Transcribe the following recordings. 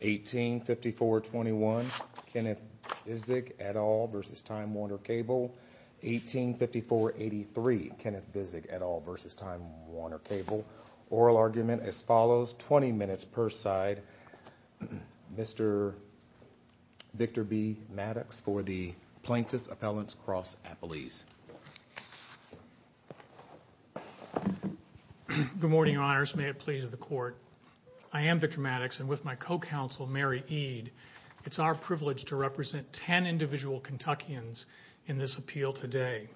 18-5421 Kenneth Bisig, et al. v. Time Warner Cable 18-5483 Kenneth Bisig, et al. v. Time Warner Cable Oral argument as follows, 20 minutes per side Mr. Victor B. Maddox for the Plaintiff's Appellant's Cross Appellees Good morning, Your Honors. May it please the Court I am Victor Maddox and with my co-counsel Mary Ede It's our privilege to represent 10 individual Kentuckians in this appeal today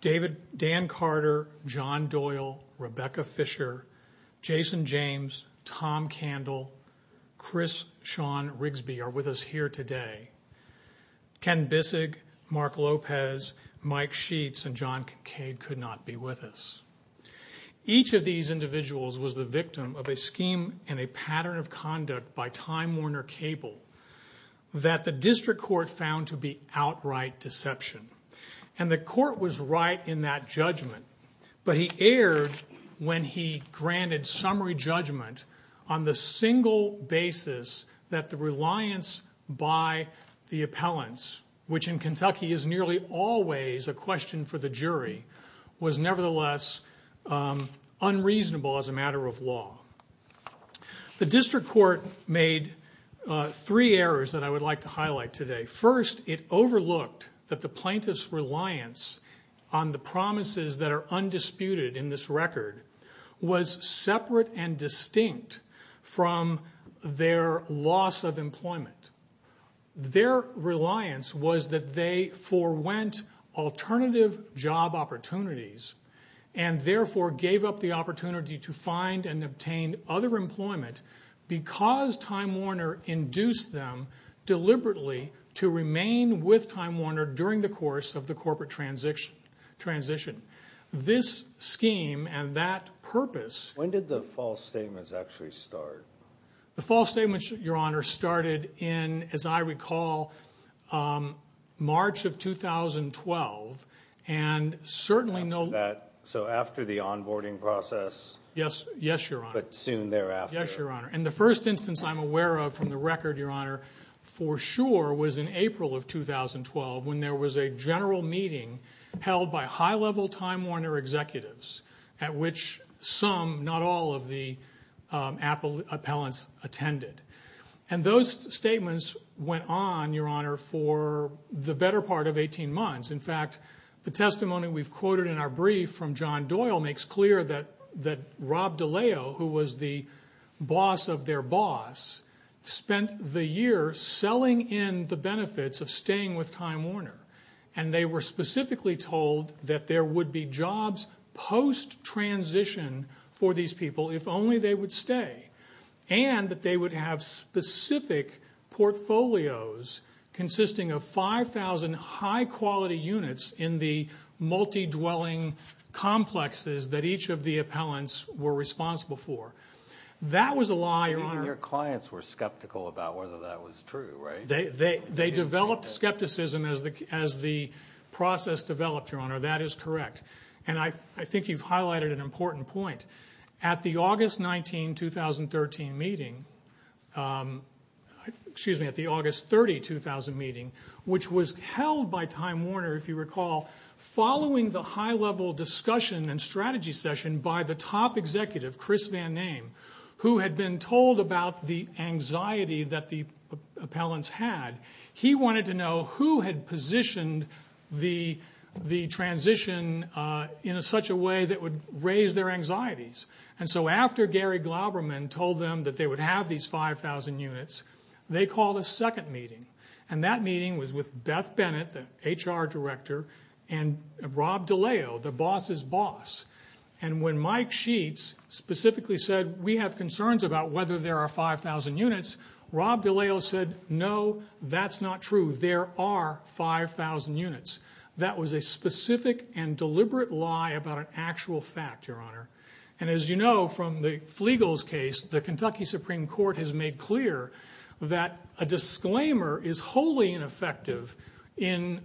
Dan Carter, John Doyle, Rebecca Fisher, Jason James, Tom Candle, Chris Sean Rigsby are with us here today Ken Bisig, Mark Lopez, Mike Sheets, and John Cade could not be with us Each of these individuals was the victim of a scheme and a pattern of conduct by Time Warner Cable that the District Court found to be outright deception And the Court was right in that judgment But he erred when he granted summary judgment on the single basis that the reliance by the appellants which in Kentucky is nearly always a question for the jury was nevertheless unreasonable as a matter of law The District Court made three errors that I would like to highlight today First, it overlooked that the plaintiff's reliance on the promises that are undisputed in this record Their reliance was that they forewent alternative job opportunities and therefore gave up the opportunity to find and obtain other employment because Time Warner induced them deliberately to remain with Time Warner during the course of the corporate transition This scheme and that purpose When did the false statements actually start? The false statements, Your Honor, started in, as I recall, March of 2012 And certainly no... So after the onboarding process? Yes, Your Honor But soon thereafter? Yes, Your Honor And the first instance I'm aware of from the record, Your Honor for sure was in April of 2012 when there was a general meeting held by high-level Time Warner executives at which some, not all, of the appellants attended And those statements went on, Your Honor, for the better part of 18 months In fact, the testimony we've quoted in our brief from John Doyle makes clear that Rob DiLeo, who was the boss of their boss spent the year selling in the benefits of staying with Time Warner And they were specifically told that there would be jobs post-transition for these people if only they would stay And that they would have specific portfolios consisting of 5,000 high-quality units in the multi-dwelling complexes that each of the appellants were responsible for That was a lie, Your Honor Your clients were skeptical about whether that was true, right? They developed skepticism as the process developed, Your Honor That is correct And I think you've highlighted an important point At the August 19, 2013 meeting Excuse me, at the August 30, 2000 meeting which was held by Time Warner, if you recall following the high-level discussion and strategy session by the top executive, Chris Van Naem who had been told about the anxiety that the appellants had He wanted to know who had positioned the transition in such a way that would raise their anxieties And so after Gary Glauberman told them that they would have these 5,000 units they called a second meeting And that meeting was with Beth Bennett, the HR director and Rob DiLeo, the boss's boss And when Mike Sheets specifically said we have concerns about whether there are 5,000 units Rob DiLeo said, no, that's not true There are 5,000 units That was a specific and deliberate lie about an actual fact, Your Honor And as you know from the Flegals case the Kentucky Supreme Court has made clear that a disclaimer is wholly ineffective in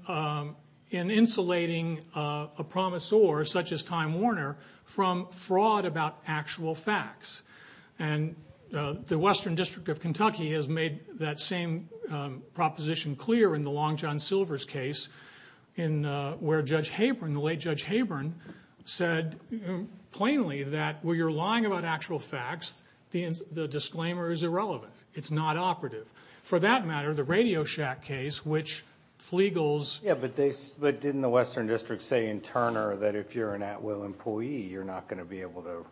insulating a promisor such as Time Warner from fraud about actual facts And the Western District of Kentucky has made that same proposition clear in the Long John Silver's case where Judge Habron, the late Judge Habron said plainly that when you're lying about actual facts the disclaimer is irrelevant It's not operative For that matter, the Radio Shack case which Flegals Yeah, but didn't the Western District say in Turner that if you're an at-will employee you're not going to be able to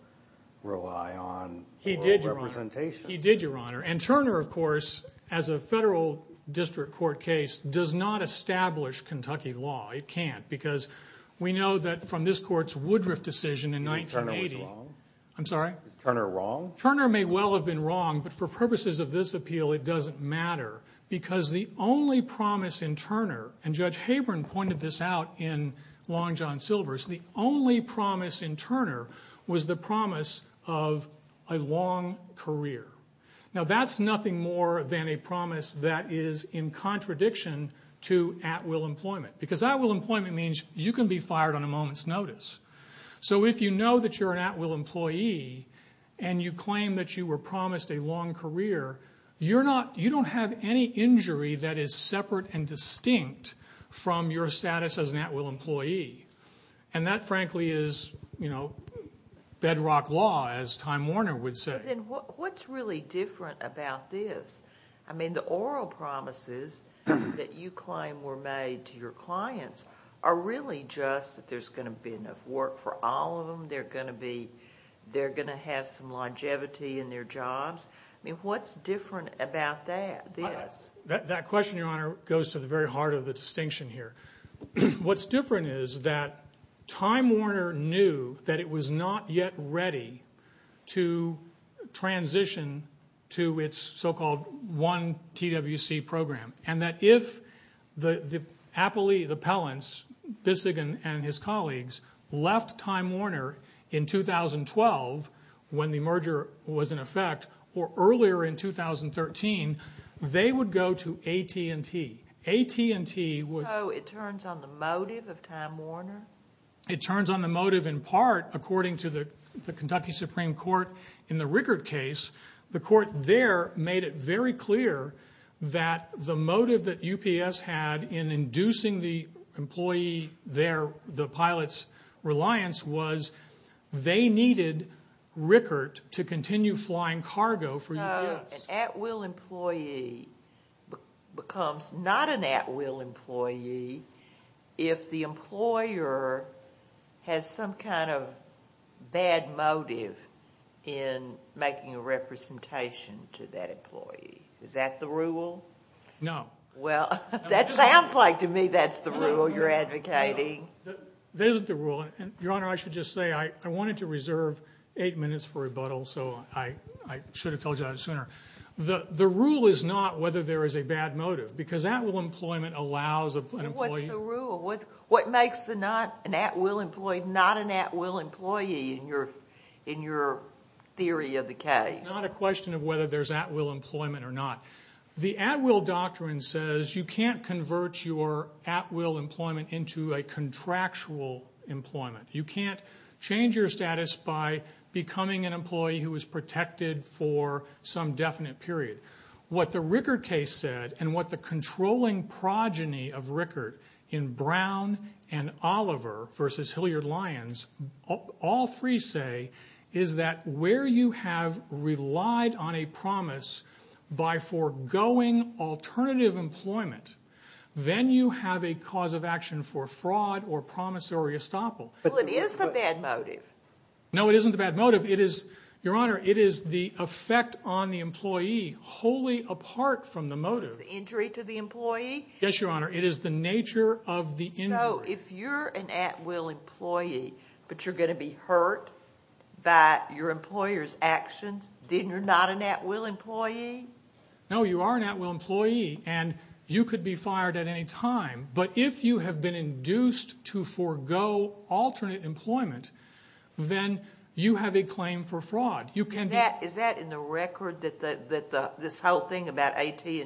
rely on He did, Your Honor He did, Your Honor And Turner, of course, as a federal district court case does not establish Kentucky law It can't Because we know that from this court's Woodruff decision in 1980 I'm sorry Is Turner wrong? Turner may well have been wrong but for purposes of this appeal it doesn't matter because the only promise in Turner and Judge Habron pointed this out in Long John Silver's the only promise in Turner was the promise of a long career Now that's nothing more than a promise that is in contradiction to at-will employment because at-will employment means you can be fired on a moment's notice So if you know that you're an at-will employee and you claim that you were promised a long career you don't have any injury that is separate and distinct from your status as an at-will employee and that, frankly, is bedrock law as Time Warner would say Then what's really different about this? I mean, the oral promises that you claim were made to your clients are really just that there's going to be enough work for all of them They're going to have some longevity in their jobs I mean, what's different about this? That question, Your Honor, goes to the very heart of the distinction here What's different is that Time Warner knew that it was not yet ready to transition to its so-called one TWC program and that if the appellants, Bissig and his colleagues left Time Warner in 2012 when the merger was in effect or earlier in 2013, they would go to AT&T AT&T would... So it turns on the motive of Time Warner? It turns on the motive in part according to the Kentucky Supreme Court in the Rickert case The court there made it very clear that the motive that UPS had in inducing the pilot's reliance was they needed Rickert to continue flying cargo for UPS So an at-will employee becomes not an at-will employee if the employer has some kind of bad motive in making a representation to that employee Is that the rule? No Well, that sounds like to me that's the rule you're advocating That is the rule Your Honor, I should just say I wanted to reserve 8 minutes for rebuttal so I should have told you that sooner The rule is not whether there is a bad motive because at-will employment allows an employee... What's the rule? What makes an at-will employee not an at-will employee in your theory of the case? It's not a question of whether there's at-will employment or not The at-will doctrine says you can't convert your at-will employment into a contractual employment You can't change your status by becoming an employee who is protected for some definite period What the Rickert case said and what the controlling progeny of Rickert in Brown and Oliver v. Hilliard Lyons all free say is that where you have relied on a promise by foregoing alternative employment then you have a cause of action for fraud or promissory estoppel Well, it is the bad motive No, it isn't the bad motive Your Honor, it is the effect on the employee wholly apart from the motive It's the injury to the employee Yes, Your Honor It is the nature of the injury So, if you're an at-will employee but you're going to be hurt by your employer's actions Then you're not an at-will employee No, you are an at-will employee and you could be fired at any time but if you have been induced to forego alternate employment then you have a claim for fraud Is that in the record that this whole thing about AT&T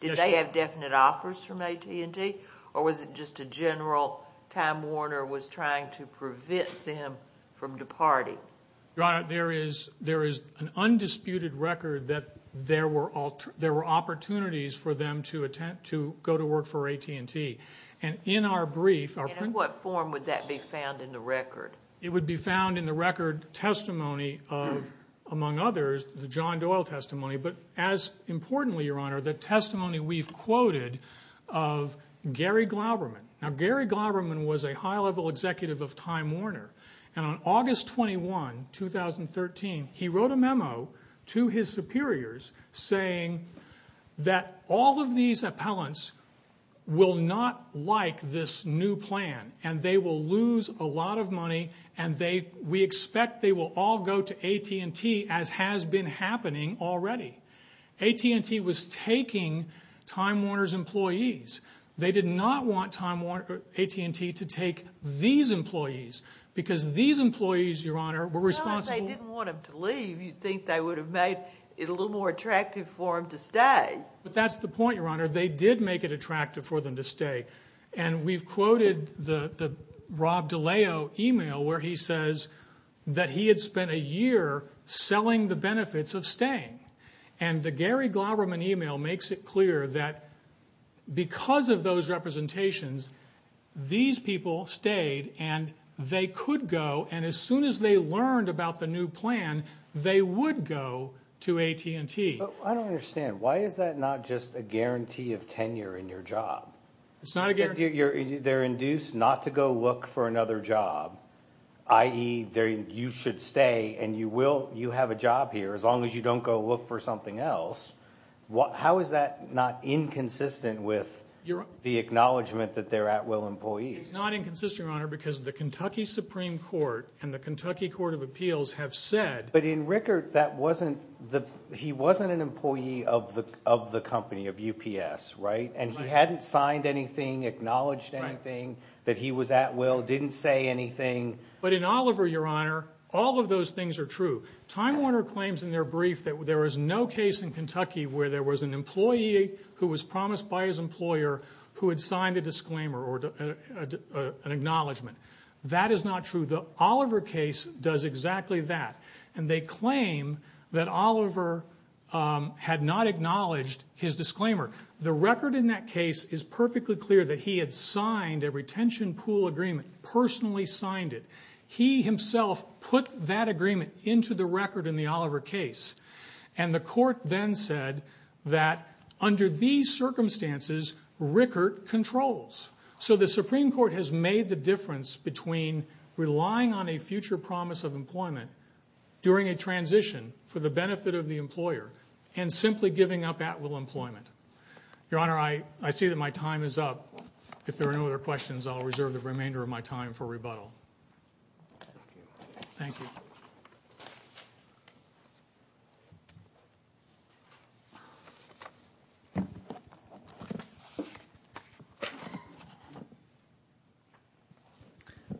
Did they have definite offers from AT&T or was it just a general time warner was trying to prevent them from departing Your Honor, there is an undisputed record that there were opportunities for them to go to work for AT&T and in our brief In what form would that be found in the record? It would be found in the record testimony of, among others, the John Doyle testimony but as importantly, Your Honor the testimony we've quoted of Gary Glauberman Now, Gary Glauberman was a high-level executive of Time Warner and on August 21, 2013 he wrote a memo to his superiors saying that all of these appellants will not like this new plan and they will lose a lot of money and we expect they will all go to AT&T as has been happening already AT&T was taking Time Warner's employees They did not want AT&T to take these employees because these employees, Your Honor were responsible Well, if they didn't want them to leave you'd think they would have made it a little more attractive for them to stay But that's the point, Your Honor They did make it attractive for them to stay and we've quoted the Rob DiLeo email where he says that he had spent a year selling the benefits of staying and the Gary Glauberman email makes it clear that because of those representations these people stayed and they could go and as soon as they learned about the new plan they would go to AT&T I don't understand Why is that not just a guarantee of tenure in your job? It's not a guarantee They're induced not to go look for another job i.e. you should stay and you have a job here as long as you don't go look for something else How is that not inconsistent with the acknowledgement that they're at-will employees? It's not inconsistent, Your Honor because the Kentucky Supreme Court and the Kentucky Court of Appeals have said But in Rickert, he wasn't an employee of the company, of UPS and he hadn't signed anything, acknowledged anything that he was at-will, didn't say anything But in Oliver, Your Honor, all of those things are true Time Warner claims in their brief that there is no case in Kentucky where there was an employee who was promised by his employer who had signed a disclaimer or an acknowledgement That is not true The Oliver case does exactly that and they claim that Oliver had not acknowledged his disclaimer The record in that case is perfectly clear that he had signed a retention pool agreement personally signed it He himself put that agreement into the record in the Oliver case and the court then said that under these circumstances, Rickert controls So the Supreme Court has made the difference between relying on a future promise of employment during a transition for the benefit of the employer and simply giving up at-will employment Your Honor, I see that my time is up If there are no other questions I'll reserve the remainder of my time for rebuttal Thank you Thank you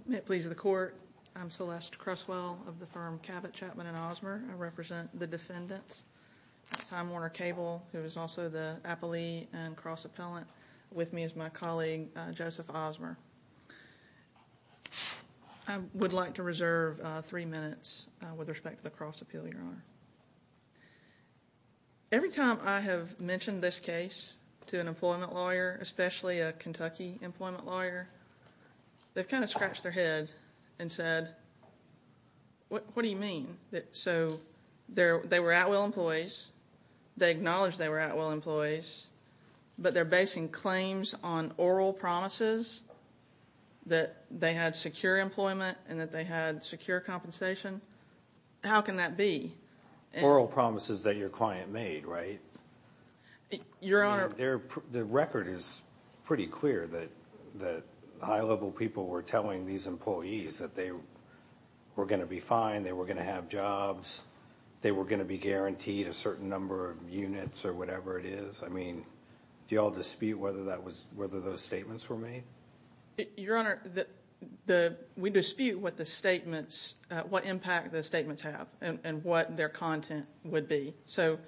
May it please the Court I'm Celeste Cresswell of the firm Cabot, Chapman & Osmer I represent the defendants Time Warner Cable, who is also the appellee and cross-appellant with me is my colleague, Joseph Osmer I would like to reserve three minutes with respect to the cross-appeal, Your Honor Every time I have mentioned this case to an employment lawyer especially a Kentucky employment lawyer they've kind of scratched their head and said What do you mean? So they were at-will employees They acknowledged they were at-will employees but they're basing claims on oral promises that they had secure employment and that they had secure compensation How can that be? Oral promises that your client made, right? Your Honor The record is pretty clear that high-level people were telling these employees that they were going to be fine they were going to have jobs they were going to be guaranteed a certain number of units or whatever it is Do you all dispute whether those statements were made? Your Honor We dispute what the statements what impact the statements have and what their content would be So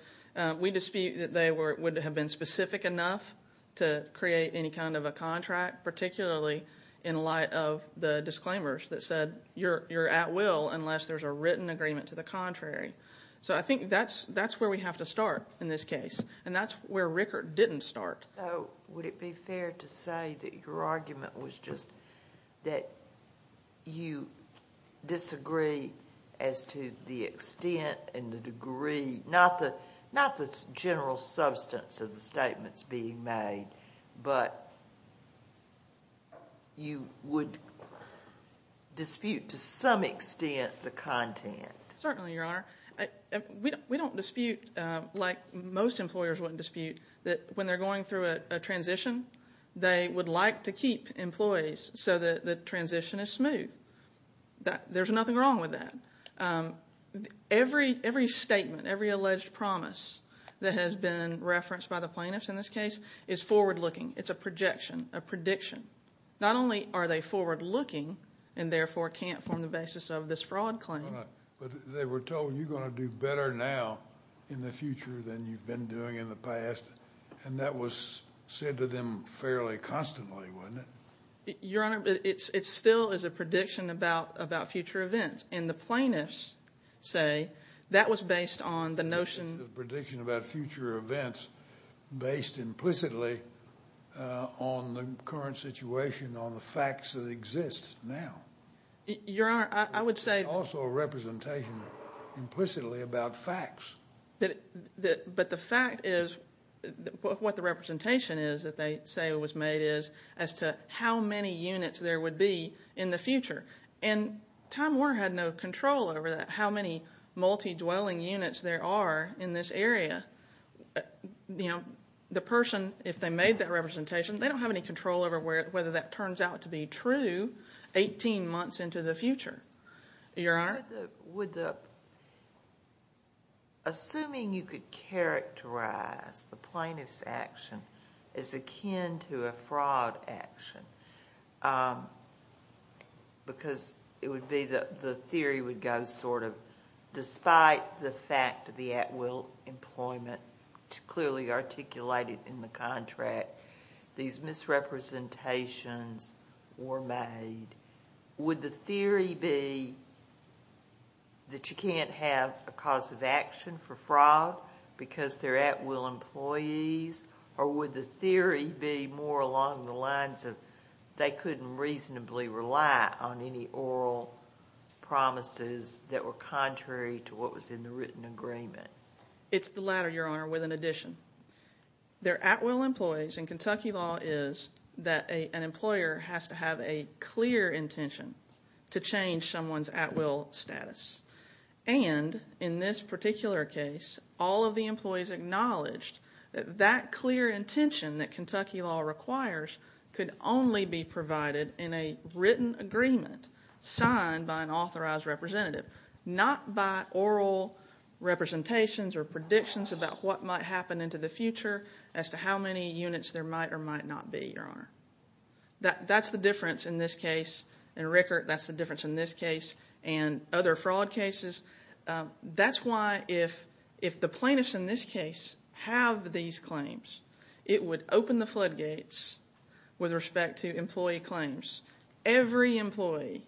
we dispute that they would have been specific enough to create any kind of a contract particularly in light of the disclaimers that said you're at-will unless there's a written agreement to the contrary So I think that's where we have to start in this case and that's where Rickert didn't start So would it be fair to say that your argument was just that you disagree as to the extent and the degree not the general substance of the statements being made but you would dispute to some extent the content? Certainly, Your Honor We don't dispute like most employers wouldn't dispute that when they're going through a transition they would like to keep employees so that the transition is smooth There's nothing wrong with that Every statement, every alleged promise that has been referenced by the plaintiffs in this case is forward-looking It's a projection, a prediction Not only are they forward-looking and therefore can't form the basis of this fraud claim But they were told you're going to do better now in the future than you've been doing in the past and that was said to them fairly constantly, wasn't it? Your Honor, it still is a prediction about future events and the plaintiffs say that was based on the notion It's a prediction about future events based implicitly on the current situation on the facts that exist now Your Honor, I would say It's also a representation implicitly about facts But the fact is what the representation is that they say was made is as to how many units there would be in the future and Tom Moore had no control over that how many multi-dwelling units there are in this area You know, the person, if they made that representation they don't have any control over whether that turns out to be true 18 months into the future Your Honor Assuming you could characterize the plaintiff's action as akin to a fraud action because it would be that the theory would go sort of despite the fact that the at-will employment clearly articulated in the contract these misrepresentations were made would the theory be that you can't have a cause of action for fraud because they're at-will employees or would the theory be more along the lines of they couldn't reasonably rely on any oral promises that were contrary to what was in the written agreement? It's the latter, Your Honor, with an addition They're at-will employees and Kentucky law is that an employer has to have a clear intention to change someone's at-will status and in this particular case all of the employees acknowledged that that clear intention that Kentucky law requires could only be provided in a written agreement signed by an authorized representative not by oral representations or predictions about what might happen into the future as to how many units there might or might not be, Your Honor That's the difference in this case and Rickert, that's the difference in this case and other fraud cases That's why if the plaintiffs in this case have these claims it would open the floodgates with respect to employee claims Every employee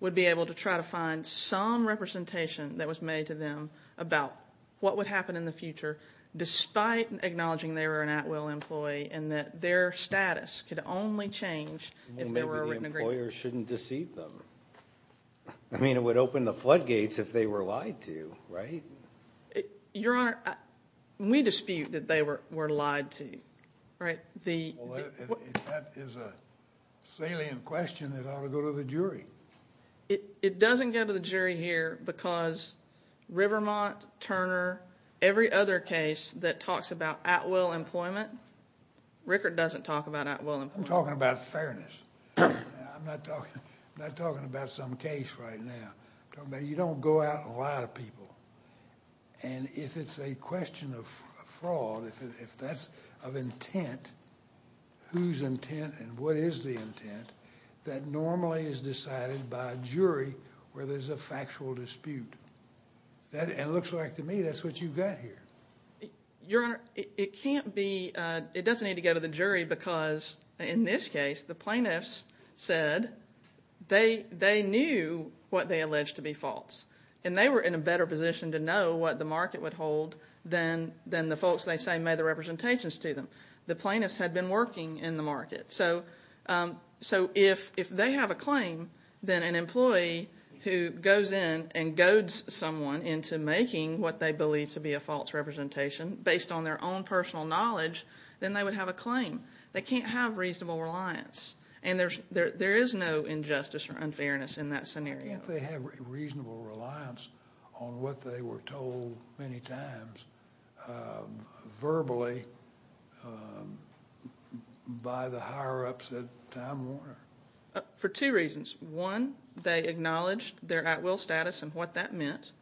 would be able to try to find some representation that was made to them about what would happen in the future despite acknowledging they were an at-will employee and that their status could only change if there were a written agreement Maybe the employer shouldn't deceive them I mean, it would open the floodgates if they were lied to, right? Your Honor, we dispute that they were lied to That is a salient question that ought to go to the jury It doesn't go to the jury here because Rivermont, Turner, every other case that talks about at-will employment Rickert doesn't talk about at-will employment I'm talking about fairness I'm not talking about some case right now You don't go out and lie to people and if it's a question of fraud if that's of intent whose intent and what is the intent that normally is decided by a jury where there's a factual dispute It looks like to me that's what you've got here Your Honor, it can't be It doesn't need to go to the jury because in this case the plaintiffs said they knew what they alleged to be false and they were in a better position to know what the market would hold than the folks they say made the representations to them The plaintiffs had been working in the market So if they have a claim then an employee who goes in and goads someone into making what they believe to be a false representation based on their own personal knowledge then they would have a claim They can't have reasonable reliance and there is no injustice or unfairness in that scenario Can't they have reasonable reliance on what they were told many times verbally by the higher-ups at Time Warner? For two reasons One, they acknowledged their at-will status and what that meant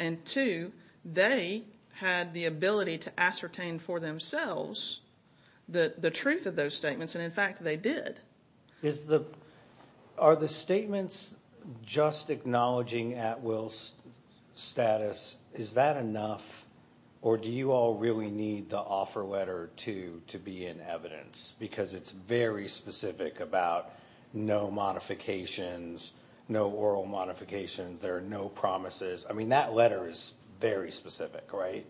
and two, they had the ability to ascertain for themselves the truth of those statements and in fact they did Are the statements just acknowledging at-will status is that enough or do you all really need the offer letter too to be in evidence because it's very specific about no modifications no oral modifications there are no promises I mean that letter is very specific, right?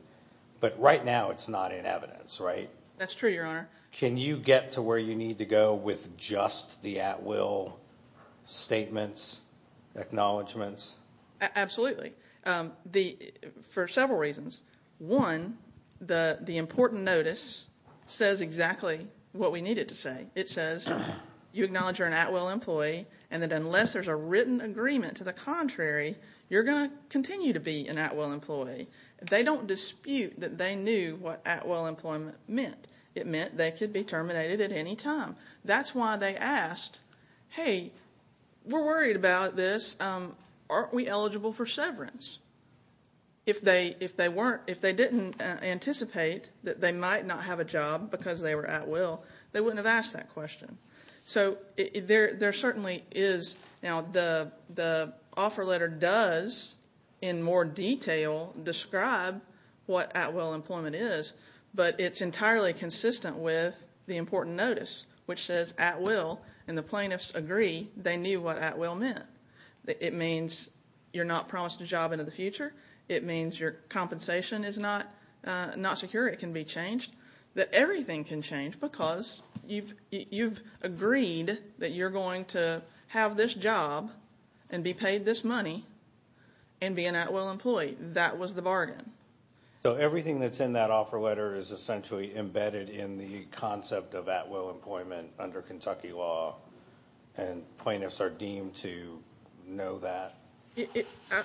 But right now it's not in evidence, right? That's true, Your Honor Can you get to where you need to go with just the at-will statements acknowledgements? Absolutely For several reasons One, the important notice says exactly what we needed to say It says you acknowledge you're an at-will employee and that unless there's a written agreement to the contrary you're going to continue to be an at-will employee They don't dispute that they knew what at-will employment meant It meant they could be terminated at any time That's why they asked Hey, we're worried about this Aren't we eligible for severance? If they didn't anticipate that they might not have a job because they were at-will they wouldn't have asked that question So there certainly is now the offer letter does in more detail describe what at-will employment is but it's entirely consistent with the important notice which says at-will and the plaintiffs agree they knew what at-will meant It means you're not promised a job into the future It means your compensation is not secure It can be changed That everything can change because you've agreed that you're going to have this job and be paid this money and be an at-will employee That was the bargain So everything that's in that offer letter is essentially embedded in the concept of at-will employment under Kentucky law And plaintiffs are deemed to know that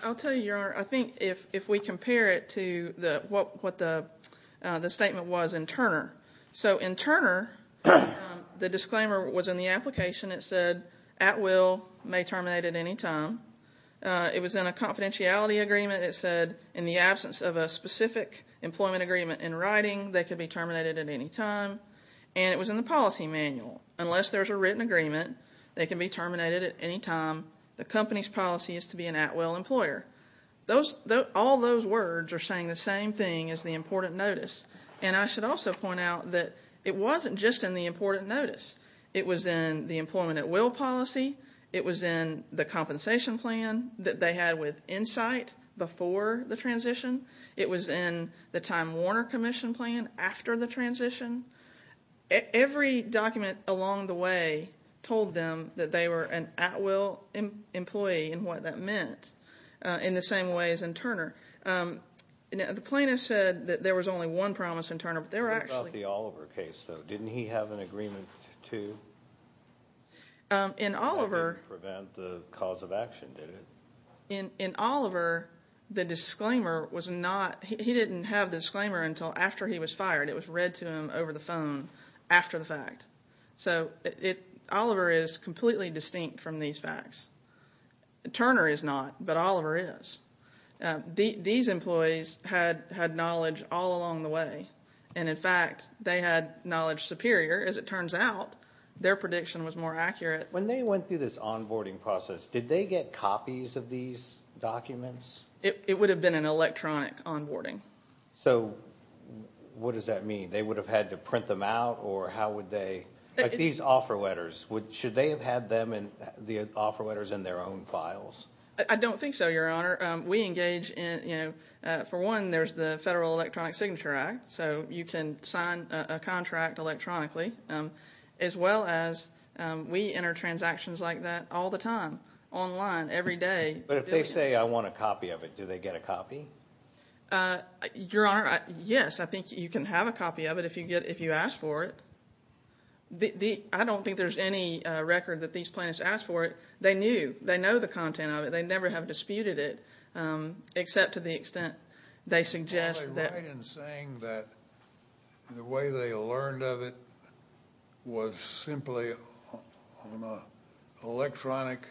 I'll tell you, Your Honor I think if we compare it to what the statement was in Turner So in Turner the disclaimer was in the application It said at-will may terminate at any time It was in a confidentiality agreement It said in the absence of a specific employment agreement in writing they could be terminated at any time And it was in the policy manual Unless there's a written agreement they can be terminated at any time The company's policy is to be an at-will employer All those words are saying the same thing as the important notice And I should also point out that it wasn't just in the important notice It was in the employment at-will policy It was in the compensation plan that they had with Insight before the transition It was in the Time Warner Commission plan after the transition Every document along the way told them that they were an at-will employee and what that meant in the same way as in Turner The plaintiff said that there was only one promise in Turner But there were actually What about the Oliver case though? Didn't he have an agreement too? In Oliver To prevent the cause of action, did it? In Oliver the disclaimer was not He didn't have the disclaimer until after he was fired It was read to him over the phone after the fact So Oliver is completely distinct from these facts Turner is not, but Oliver is These employees had knowledge all along the way And in fact, they had knowledge superior As it turns out their prediction was more accurate When they went through this onboarding process did they get copies of these documents? It would have been an electronic onboarding So what does that mean? They would have had to print them out Or how would they These offer letters Should they have had the offer letters in their own files? I don't think so, Your Honor We engage in For one, there's the Federal Electronic Signature Act So you can sign a contract electronically As well as We enter transactions like that all the time Online, every day But if they say, I want a copy of it Do they get a copy? Your Honor, yes I think you can have a copy of it If you ask for it I don't think there's any record that these plaintiffs asked for it They knew, they know the content of it They never have disputed it Except to the extent they suggest that Are they right in saying that The way they learned of it Was simply On an electronic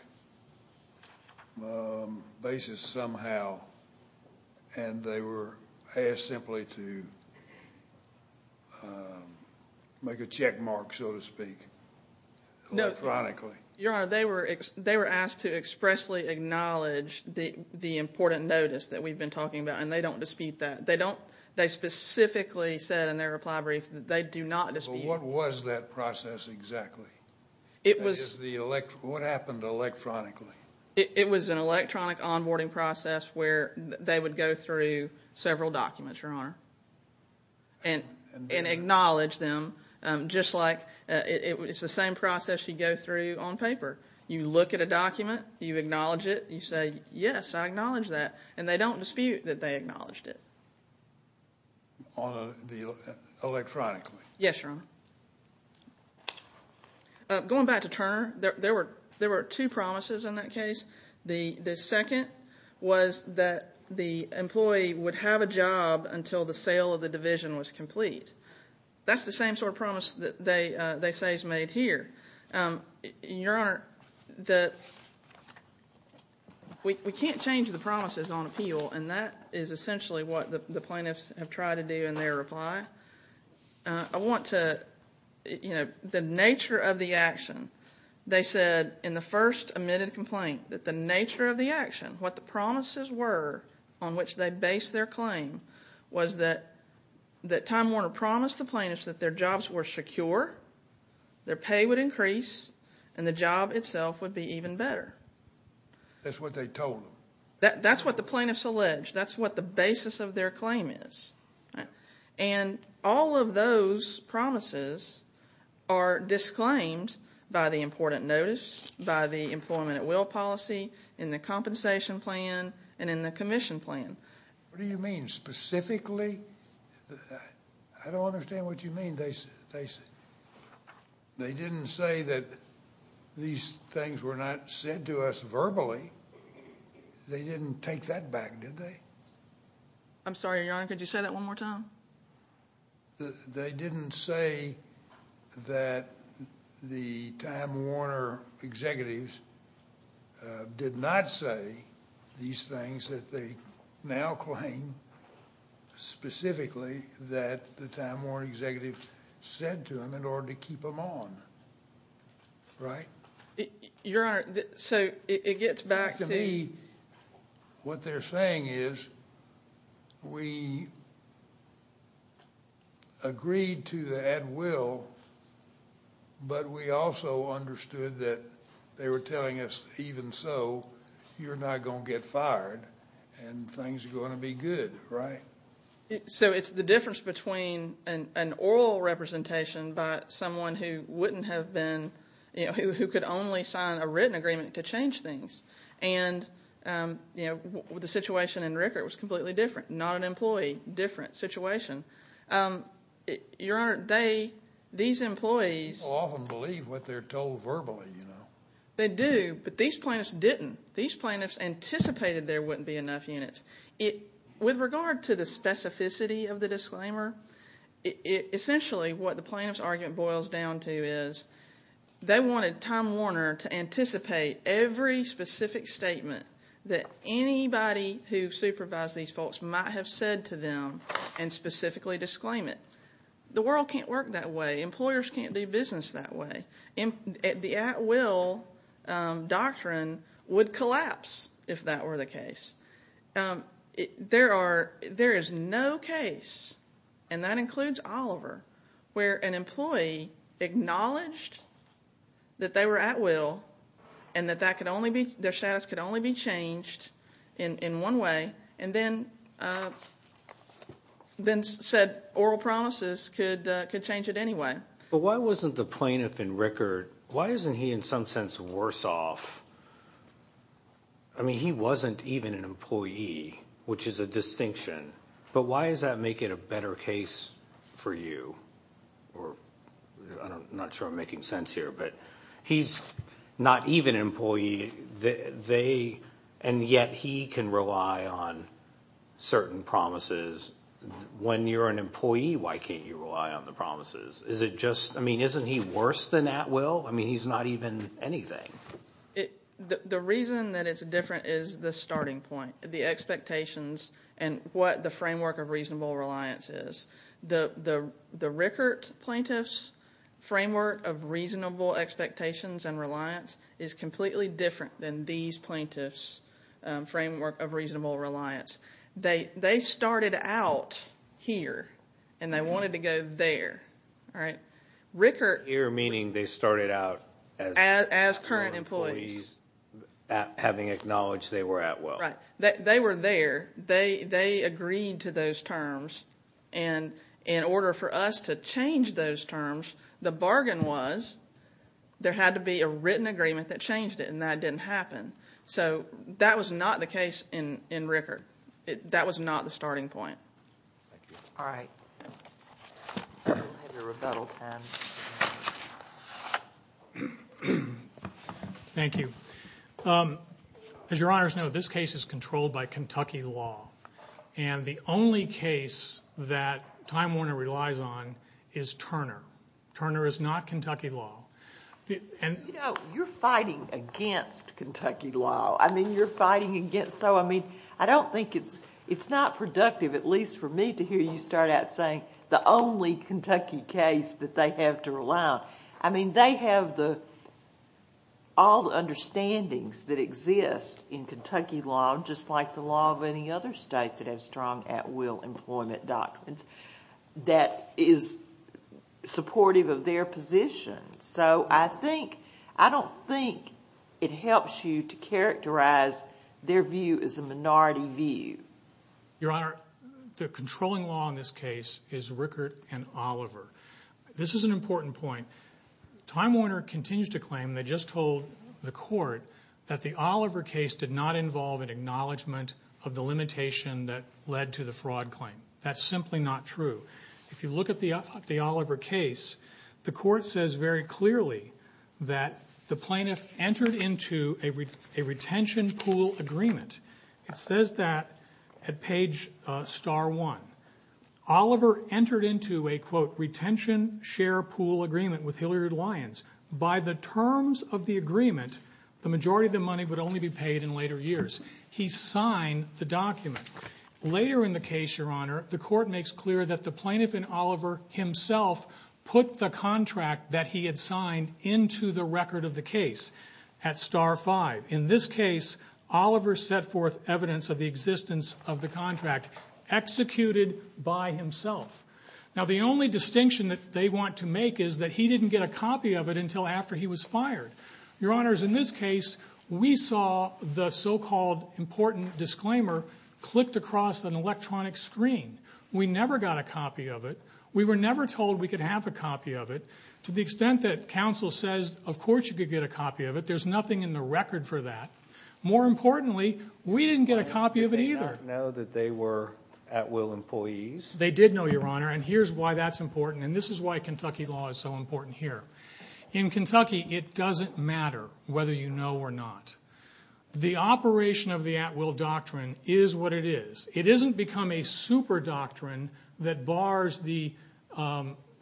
basis somehow And they were asked simply to Make a check mark, so to speak Electronically Your Honor, they were asked to expressly acknowledge The important notice that we've been talking about And they don't dispute that They specifically said in their reply brief That they do not dispute What was that process exactly? What happened electronically? It was an electronic onboarding process Where they would go through Several documents, Your Honor And acknowledge them Just like It's the same process you go through on paper You look at a document You acknowledge it You say, yes, I acknowledge that And they don't dispute that they acknowledged it Electronically Yes, Your Honor Going back to Turner There were two promises in that case The second was that the employee would have a job Until the sale of the division was complete That's the same sort of promise That they say is made here Your Honor We can't change the promises on appeal And that is essentially what the plaintiffs Have tried to do in their reply I want to The nature of the action They said in the first admitted complaint That the nature of the action What the promises were On which they based their claim Was that That Time Warner promised the plaintiffs That their jobs were secure Their pay would increase And the job itself would be even better That's what they told them That's what the plaintiffs allege That's what the basis of their claim is And all of those promises Are disclaimed by the important notice By the employment at will policy In the compensation plan And in the commission plan What do you mean? Specifically? I don't understand what you mean They said They didn't say that These things were not said to us verbally They didn't take that back, did they? I'm sorry, Your Honor Could you say that one more time? They didn't say That the Time Warner executives Did not say These things that they now claim Specifically That the Time Warner executives Said to them in order to keep them on Right? Your Honor So it gets back to To me What they're saying is We Agreed to the at will But we also understood that They were telling us Even so You're not going to get fired And things are going to be good Right? So it's the difference between An oral representation By someone who wouldn't have been You know, who could only sign A written agreement to change things And You know The situation in Rickert Was completely different Not an employee Different situation Your Honor They These employees Often believe what they're told verbally They do But these plaintiffs didn't These plaintiffs anticipated There wouldn't be enough units With regard to the specificity Of the disclaimer Essentially What the plaintiff's argument Boils down to is They wanted Time Warner To anticipate Every specific statement That anybody Who supervised these folks Might have said to them And specifically disclaim it The world can't work that way Employers can't do business that way The at will Doctrine Would collapse If that were the case There are There is no case And that includes Oliver Where an employee Acknowledged That they were at will And that that could only be Their status could only be changed In one way And then Then said Oral promises Could change it anyway But why wasn't the plaintiff in Rickert Why isn't he in some sense worse off I mean he wasn't even an employee Which is a distinction But why does that make it a better case For you Or I'm not sure I'm making sense here But he's not even an employee They And yet he can rely on Certain promises When you're an employee Why can't you rely on the promises Is it just I mean isn't he worse than at will I mean he's not even anything The reason that it's different Is the starting point The expectations And what the framework of reasonable reliance is The Rickert plaintiffs Framework of reasonable expectations And reliance Is completely different than these plaintiffs Framework of reasonable reliance They started out Here And they wanted to go there All right Rickert Here meaning they started out As current employees Having acknowledged they were at will Right They were there They agreed to those terms And In order for us to change those terms The bargain was There had to be a written agreement that changed it And that didn't happen So That was not the case in Rickert That was not the starting point All right Thank you As your honors know This case is controlled by Kentucky law And the only case That Time Warner relies on Is Turner Turner is not Kentucky law You know You're fighting against Kentucky law I mean you're fighting against So I mean I don't think it's It's not productive At least for me to hear you start out saying The only Kentucky case That they have to rely on I mean they have the All the understandings that exist In Kentucky law Just like the law of any other state That have strong at will employment doctrines That is Supportive of their position So I think I don't think It helps you to characterize Their view as a minority view Your honor The controlling law in this case Is Rickert and Oliver This is an important point Time Warner continues to claim They just told the court That the Oliver case did not involve An acknowledgment of the limitation That led to the fraud claim That's simply not true If you look at the Oliver case The court says very clearly That the plaintiff entered into A retention pool agreement It says that At page star one Oliver entered into a Quote retention share pool agreement With Hilliard Lyons By the terms of the agreement The majority of the money Would only be paid in later years He signed the document Later in the case your honor The court makes clear That the plaintiff and Oliver himself Put the contract that he had signed Into the record of the case At star five In this case Oliver set forth evidence Of the existence of the contract Executed by himself Now the only distinction That they want to make Is that he didn't get a copy of it Until after he was fired Your honors In this case We saw the so called Important disclaimer Clicked across an electronic screen We never got a copy of it We were never told We could have a copy of it To the extent that Counsel says Of course you could get a copy of it There's nothing in the record for that More importantly We didn't get a copy of it either They didn't know that they were At will employees They did know your honor And here's why that's important And this is why Kentucky law Is so important here In Kentucky It doesn't matter Whether you know or not The operation of the at will doctrine Is what it is It isn't become a super doctrine That bars the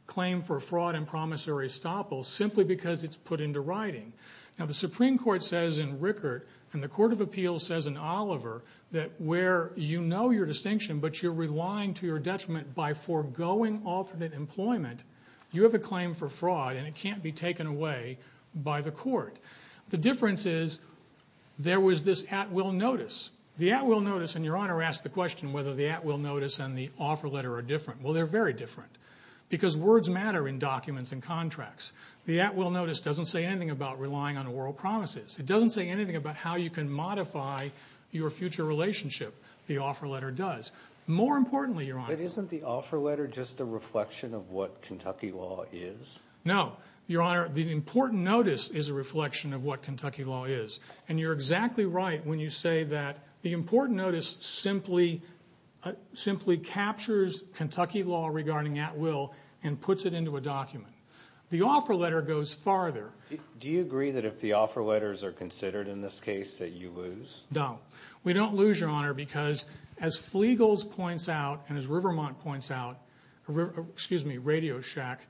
Claim for fraud And promissory estoppel Simply because it's put into writing Now the supreme court says In Rickert And the court of appeals Says in Oliver That where you know your distinction But you're relying to your detriment By foregoing alternate employment You have a claim for fraud And it can't be taken away By the court The difference is There was this at will notice The at will notice And your honor asked the question Whether the at will notice And the offer letter are different Well they're very different Because words matter In documents and contracts The at will notice Doesn't say anything about Relying on oral promises It doesn't say anything about How you can modify Your future relationship The offer letter does More importantly your honor But isn't the offer letter Just a reflection Of what Kentucky law is No your honor The important notice Is a reflection Of what Kentucky law is And you're exactly right When you say that The important notice Simply captures Kentucky law Regarding at will And puts it into a document The offer letter goes farther Do you agree that If the offer letters Are considered in this case That you lose No We don't lose your honor Because as Flegals points out And as Rivermont points out Excuse me Radio Shack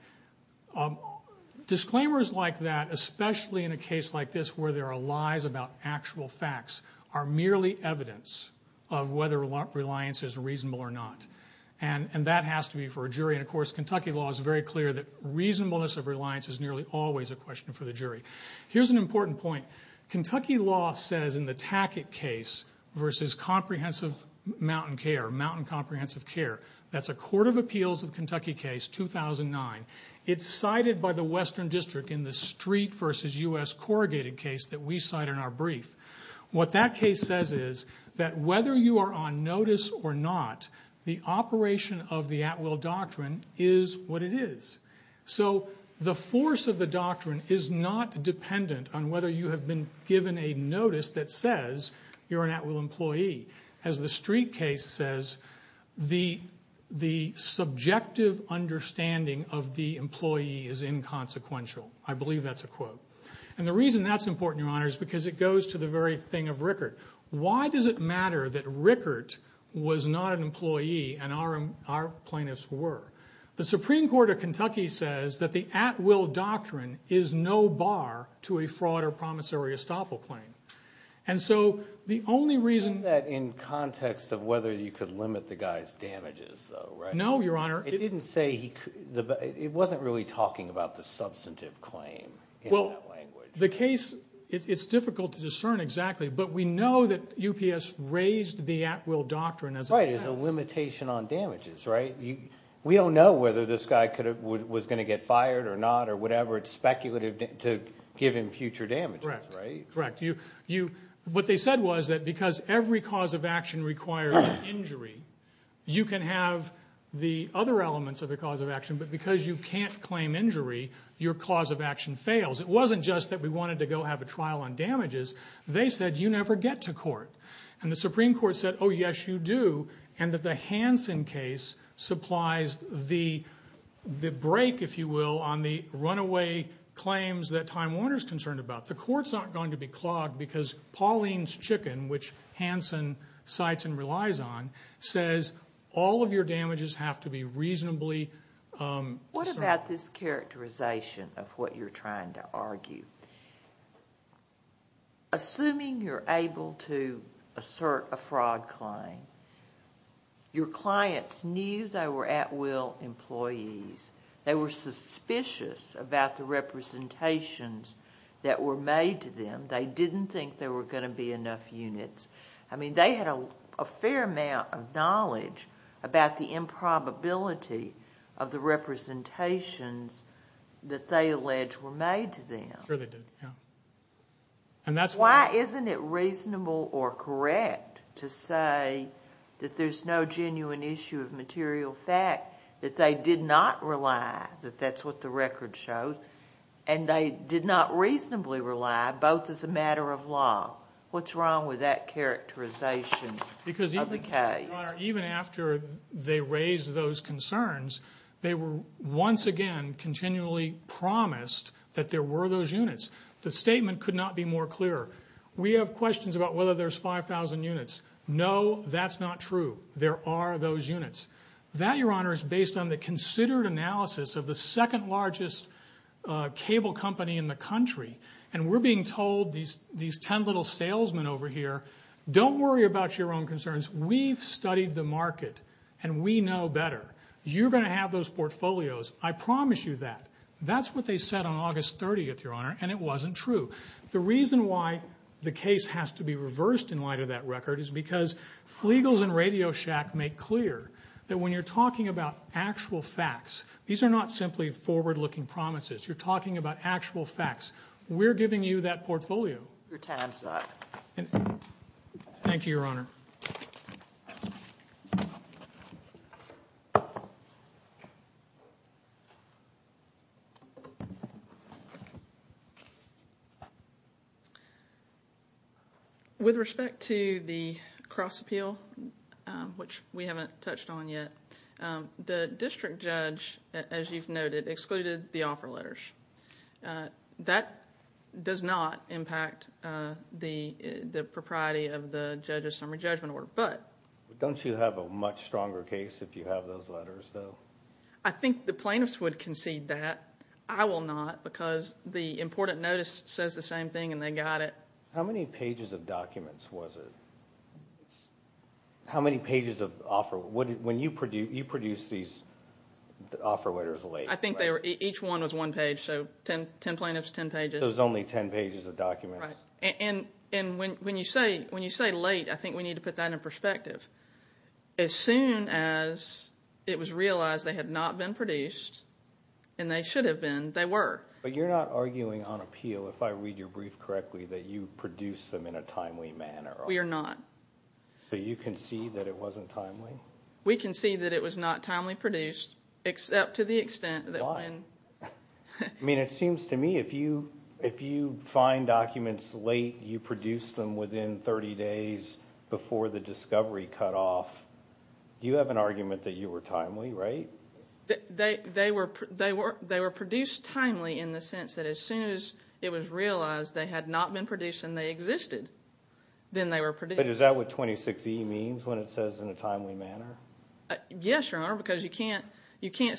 Disclaimers like that Especially in a case like this Where there are lies About actual facts Are merely evidence Of whether reliance Is reasonable or not And that has to be for a jury And of course Kentucky law Is very clear that Reasonableness of reliance Is nearly always a question For the jury Here's an important point Kentucky law says In the Tackett case Versus comprehensive Mountain care Mountain comprehensive care That's a court of appeals Of Kentucky case 2009 It's cited by the western district In the street Versus US corrugated case That we cite in our brief What that case says is That whether you are on notice Or not The operation of the at will doctrine Is what it is So the force of the doctrine Is not dependent On whether you have been Given a notice that says You're an at will employee As the street case says The subjective understanding Of the employee Is inconsequential I believe that's a quote And the reason that's important Your honor is because It goes to the very thing Of Rickert Why does it matter That Rickert was not an employee And our plaintiffs were The supreme court of Kentucky Says that the at will doctrine Is no bar to a fraud Or promissory estoppel claim And so the only reason In context of whether You could limit the guys Damages though right No your honor It didn't say It wasn't really talking about The substantive claim In that language The case It's difficult to discern exactly But we know that UPS Raised the at will doctrine As a limitation on damages Right We don't know whether this guy Was going to get fired or not Or whatever It's speculative To give him future damages Correct What they said was That because every cause of action Requires an injury You can have The other elements Of the cause of action But because you can't Claim injury Your cause of action fails It wasn't just that we wanted To go have a trial on damages They said you never get to court And the supreme court said Oh yes you do And that the Hanson case Supplies the The break if you will On the runaway claims That Time Warner is concerned about The court's not going to be clogged Because Pauline's chicken Which Hanson Cites and relies on Says all of your damages Have to be reasonably What about this characterization Of what you're trying to argue Assuming you're able to Assert a fraud claim Your clients knew They were at will employees They were suspicious About the representations That were made to them They didn't think There were going to be enough units I mean they had a Fair amount of knowledge About the improbability Of the representations That they allege Were made to them And that's why Isn't it reasonable or correct To say That there's no genuine issue Of material fact That they did not rely That that's what the record shows And they did not reasonably rely Both as a matter of law What's wrong with that characterization Because even after They raised those concerns They were once again Continually promised That there were those units The statement could not be more clear We have questions about whether there's 5000 units No that's not true There are those units That your honor is based on the considered analysis Of the second largest Cable company in the country And we're being told These ten little salesmen over here Don't worry about your own concerns We've studied the market And we know better You're going to have those portfolios I promise you that That's what they said on August 30th your honor And it wasn't true The reason why the case has to be reversed In light of that record Is because Flegals and Radio Shack Make clear that when you're talking about actual facts These are not simply forward looking promises You're talking about actual facts We're giving you that portfolio Your time is up Thank you your honor With respect to the Cross appeal Which we haven't touched on yet The district judge As you've noted excluded the offer letters That Does not impact The propriety of the Judge's summary judgment order Don't you have a much stronger case If you have those letters though I think the plaintiffs would concede that I will not because The important notice says the same thing And they got it How many pages of documents was it? How many pages of When you produced These offer letters I think each one was one page So 10 plaintiffs, 10 pages So it was only 10 pages of documents And when you say Late I think we need to put that in perspective As soon as It was realized they had not Been produced And they should have been, they were But you're not arguing on appeal If I read your brief correctly That you produced them in a timely manner We are not So you concede that it wasn't timely We concede that it was not timely produced Except to the extent Why? I mean it seems to me if you Find documents late You produce them within 30 days Before the discovery cut off You have an argument that you were Timely, right? They were produced Timely in the sense that as soon as It was realized they had not been Produced and they existed Then they were produced But is that what 26E means when it says in a timely manner? Yes your honor because you can't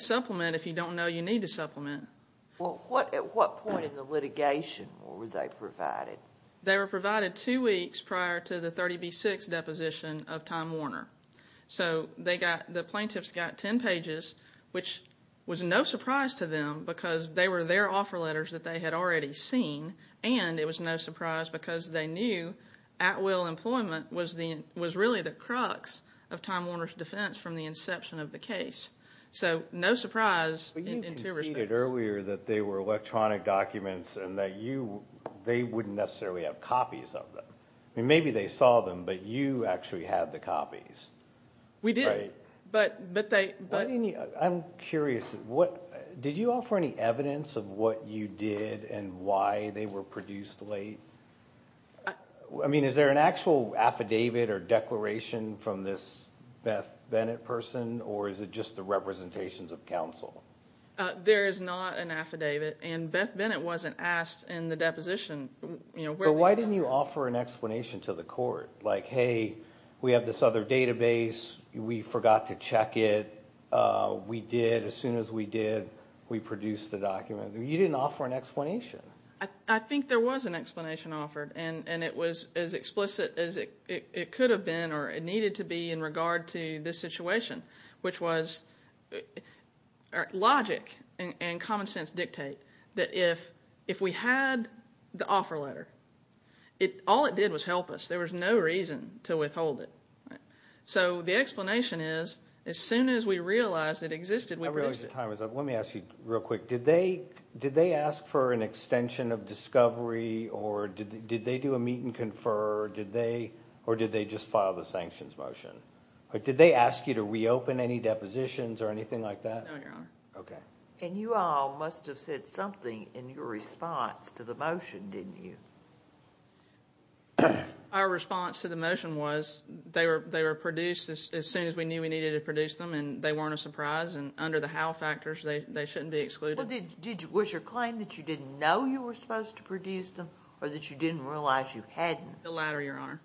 Supplement if you don't know you need to supplement Well at what point In the litigation were they provided? They were provided two weeks Prior to the 30B6 deposition Of Tom Warner So the plaintiffs got 10 pages Which was no surprise To them because they were their Offer letters that they had already seen And it was no surprise because They knew at will employment Was really the crux Of Tom Warner's defense from the inception Of the case So no surprise But you conceded earlier that they were electronic documents And that you They wouldn't necessarily have copies of them Maybe they saw them but you Actually had the copies We did I'm curious Did you offer any evidence Of what you did and why They were produced late? I mean is there an actual Affidavit or declaration From this Beth Bennett person Or is it just the representations Of counsel? There is not an affidavit and Beth Bennett Wasn't asked in the deposition But why didn't you offer an explanation To the court like hey We have this other database We forgot to check it We did as soon as we did We produced the document You didn't offer an explanation I think there was an explanation offered And it was as explicit As it could have been Or it needed to be in regard to this situation Which was Logic And common sense dictate That if we had The offer letter All it did was help us There was no reason to withhold it So the explanation is As soon as we realized it existed Let me ask you real quick Did they ask for an extension Of discovery or Did they do a meet and confer Or did they just file the sanctions motion? Did they ask you to Reopen any depositions or anything like that? No your honor And you all must have said something In your response to the motion Didn't you? Our response to the motion was They were produced As soon as we knew we needed to produce them And they weren't a surprise and under the how factors They shouldn't be excluded Was your claim that you didn't know You were supposed to produce them Or that you didn't realize you hadn't? The latter your honor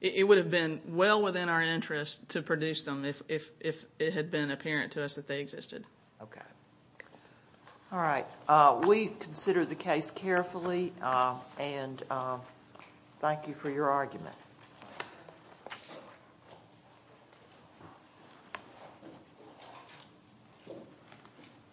It would have been well within our interest To produce them if it had been Apparent to us that they existed Okay Alright we considered the case carefully And Thank you for your argument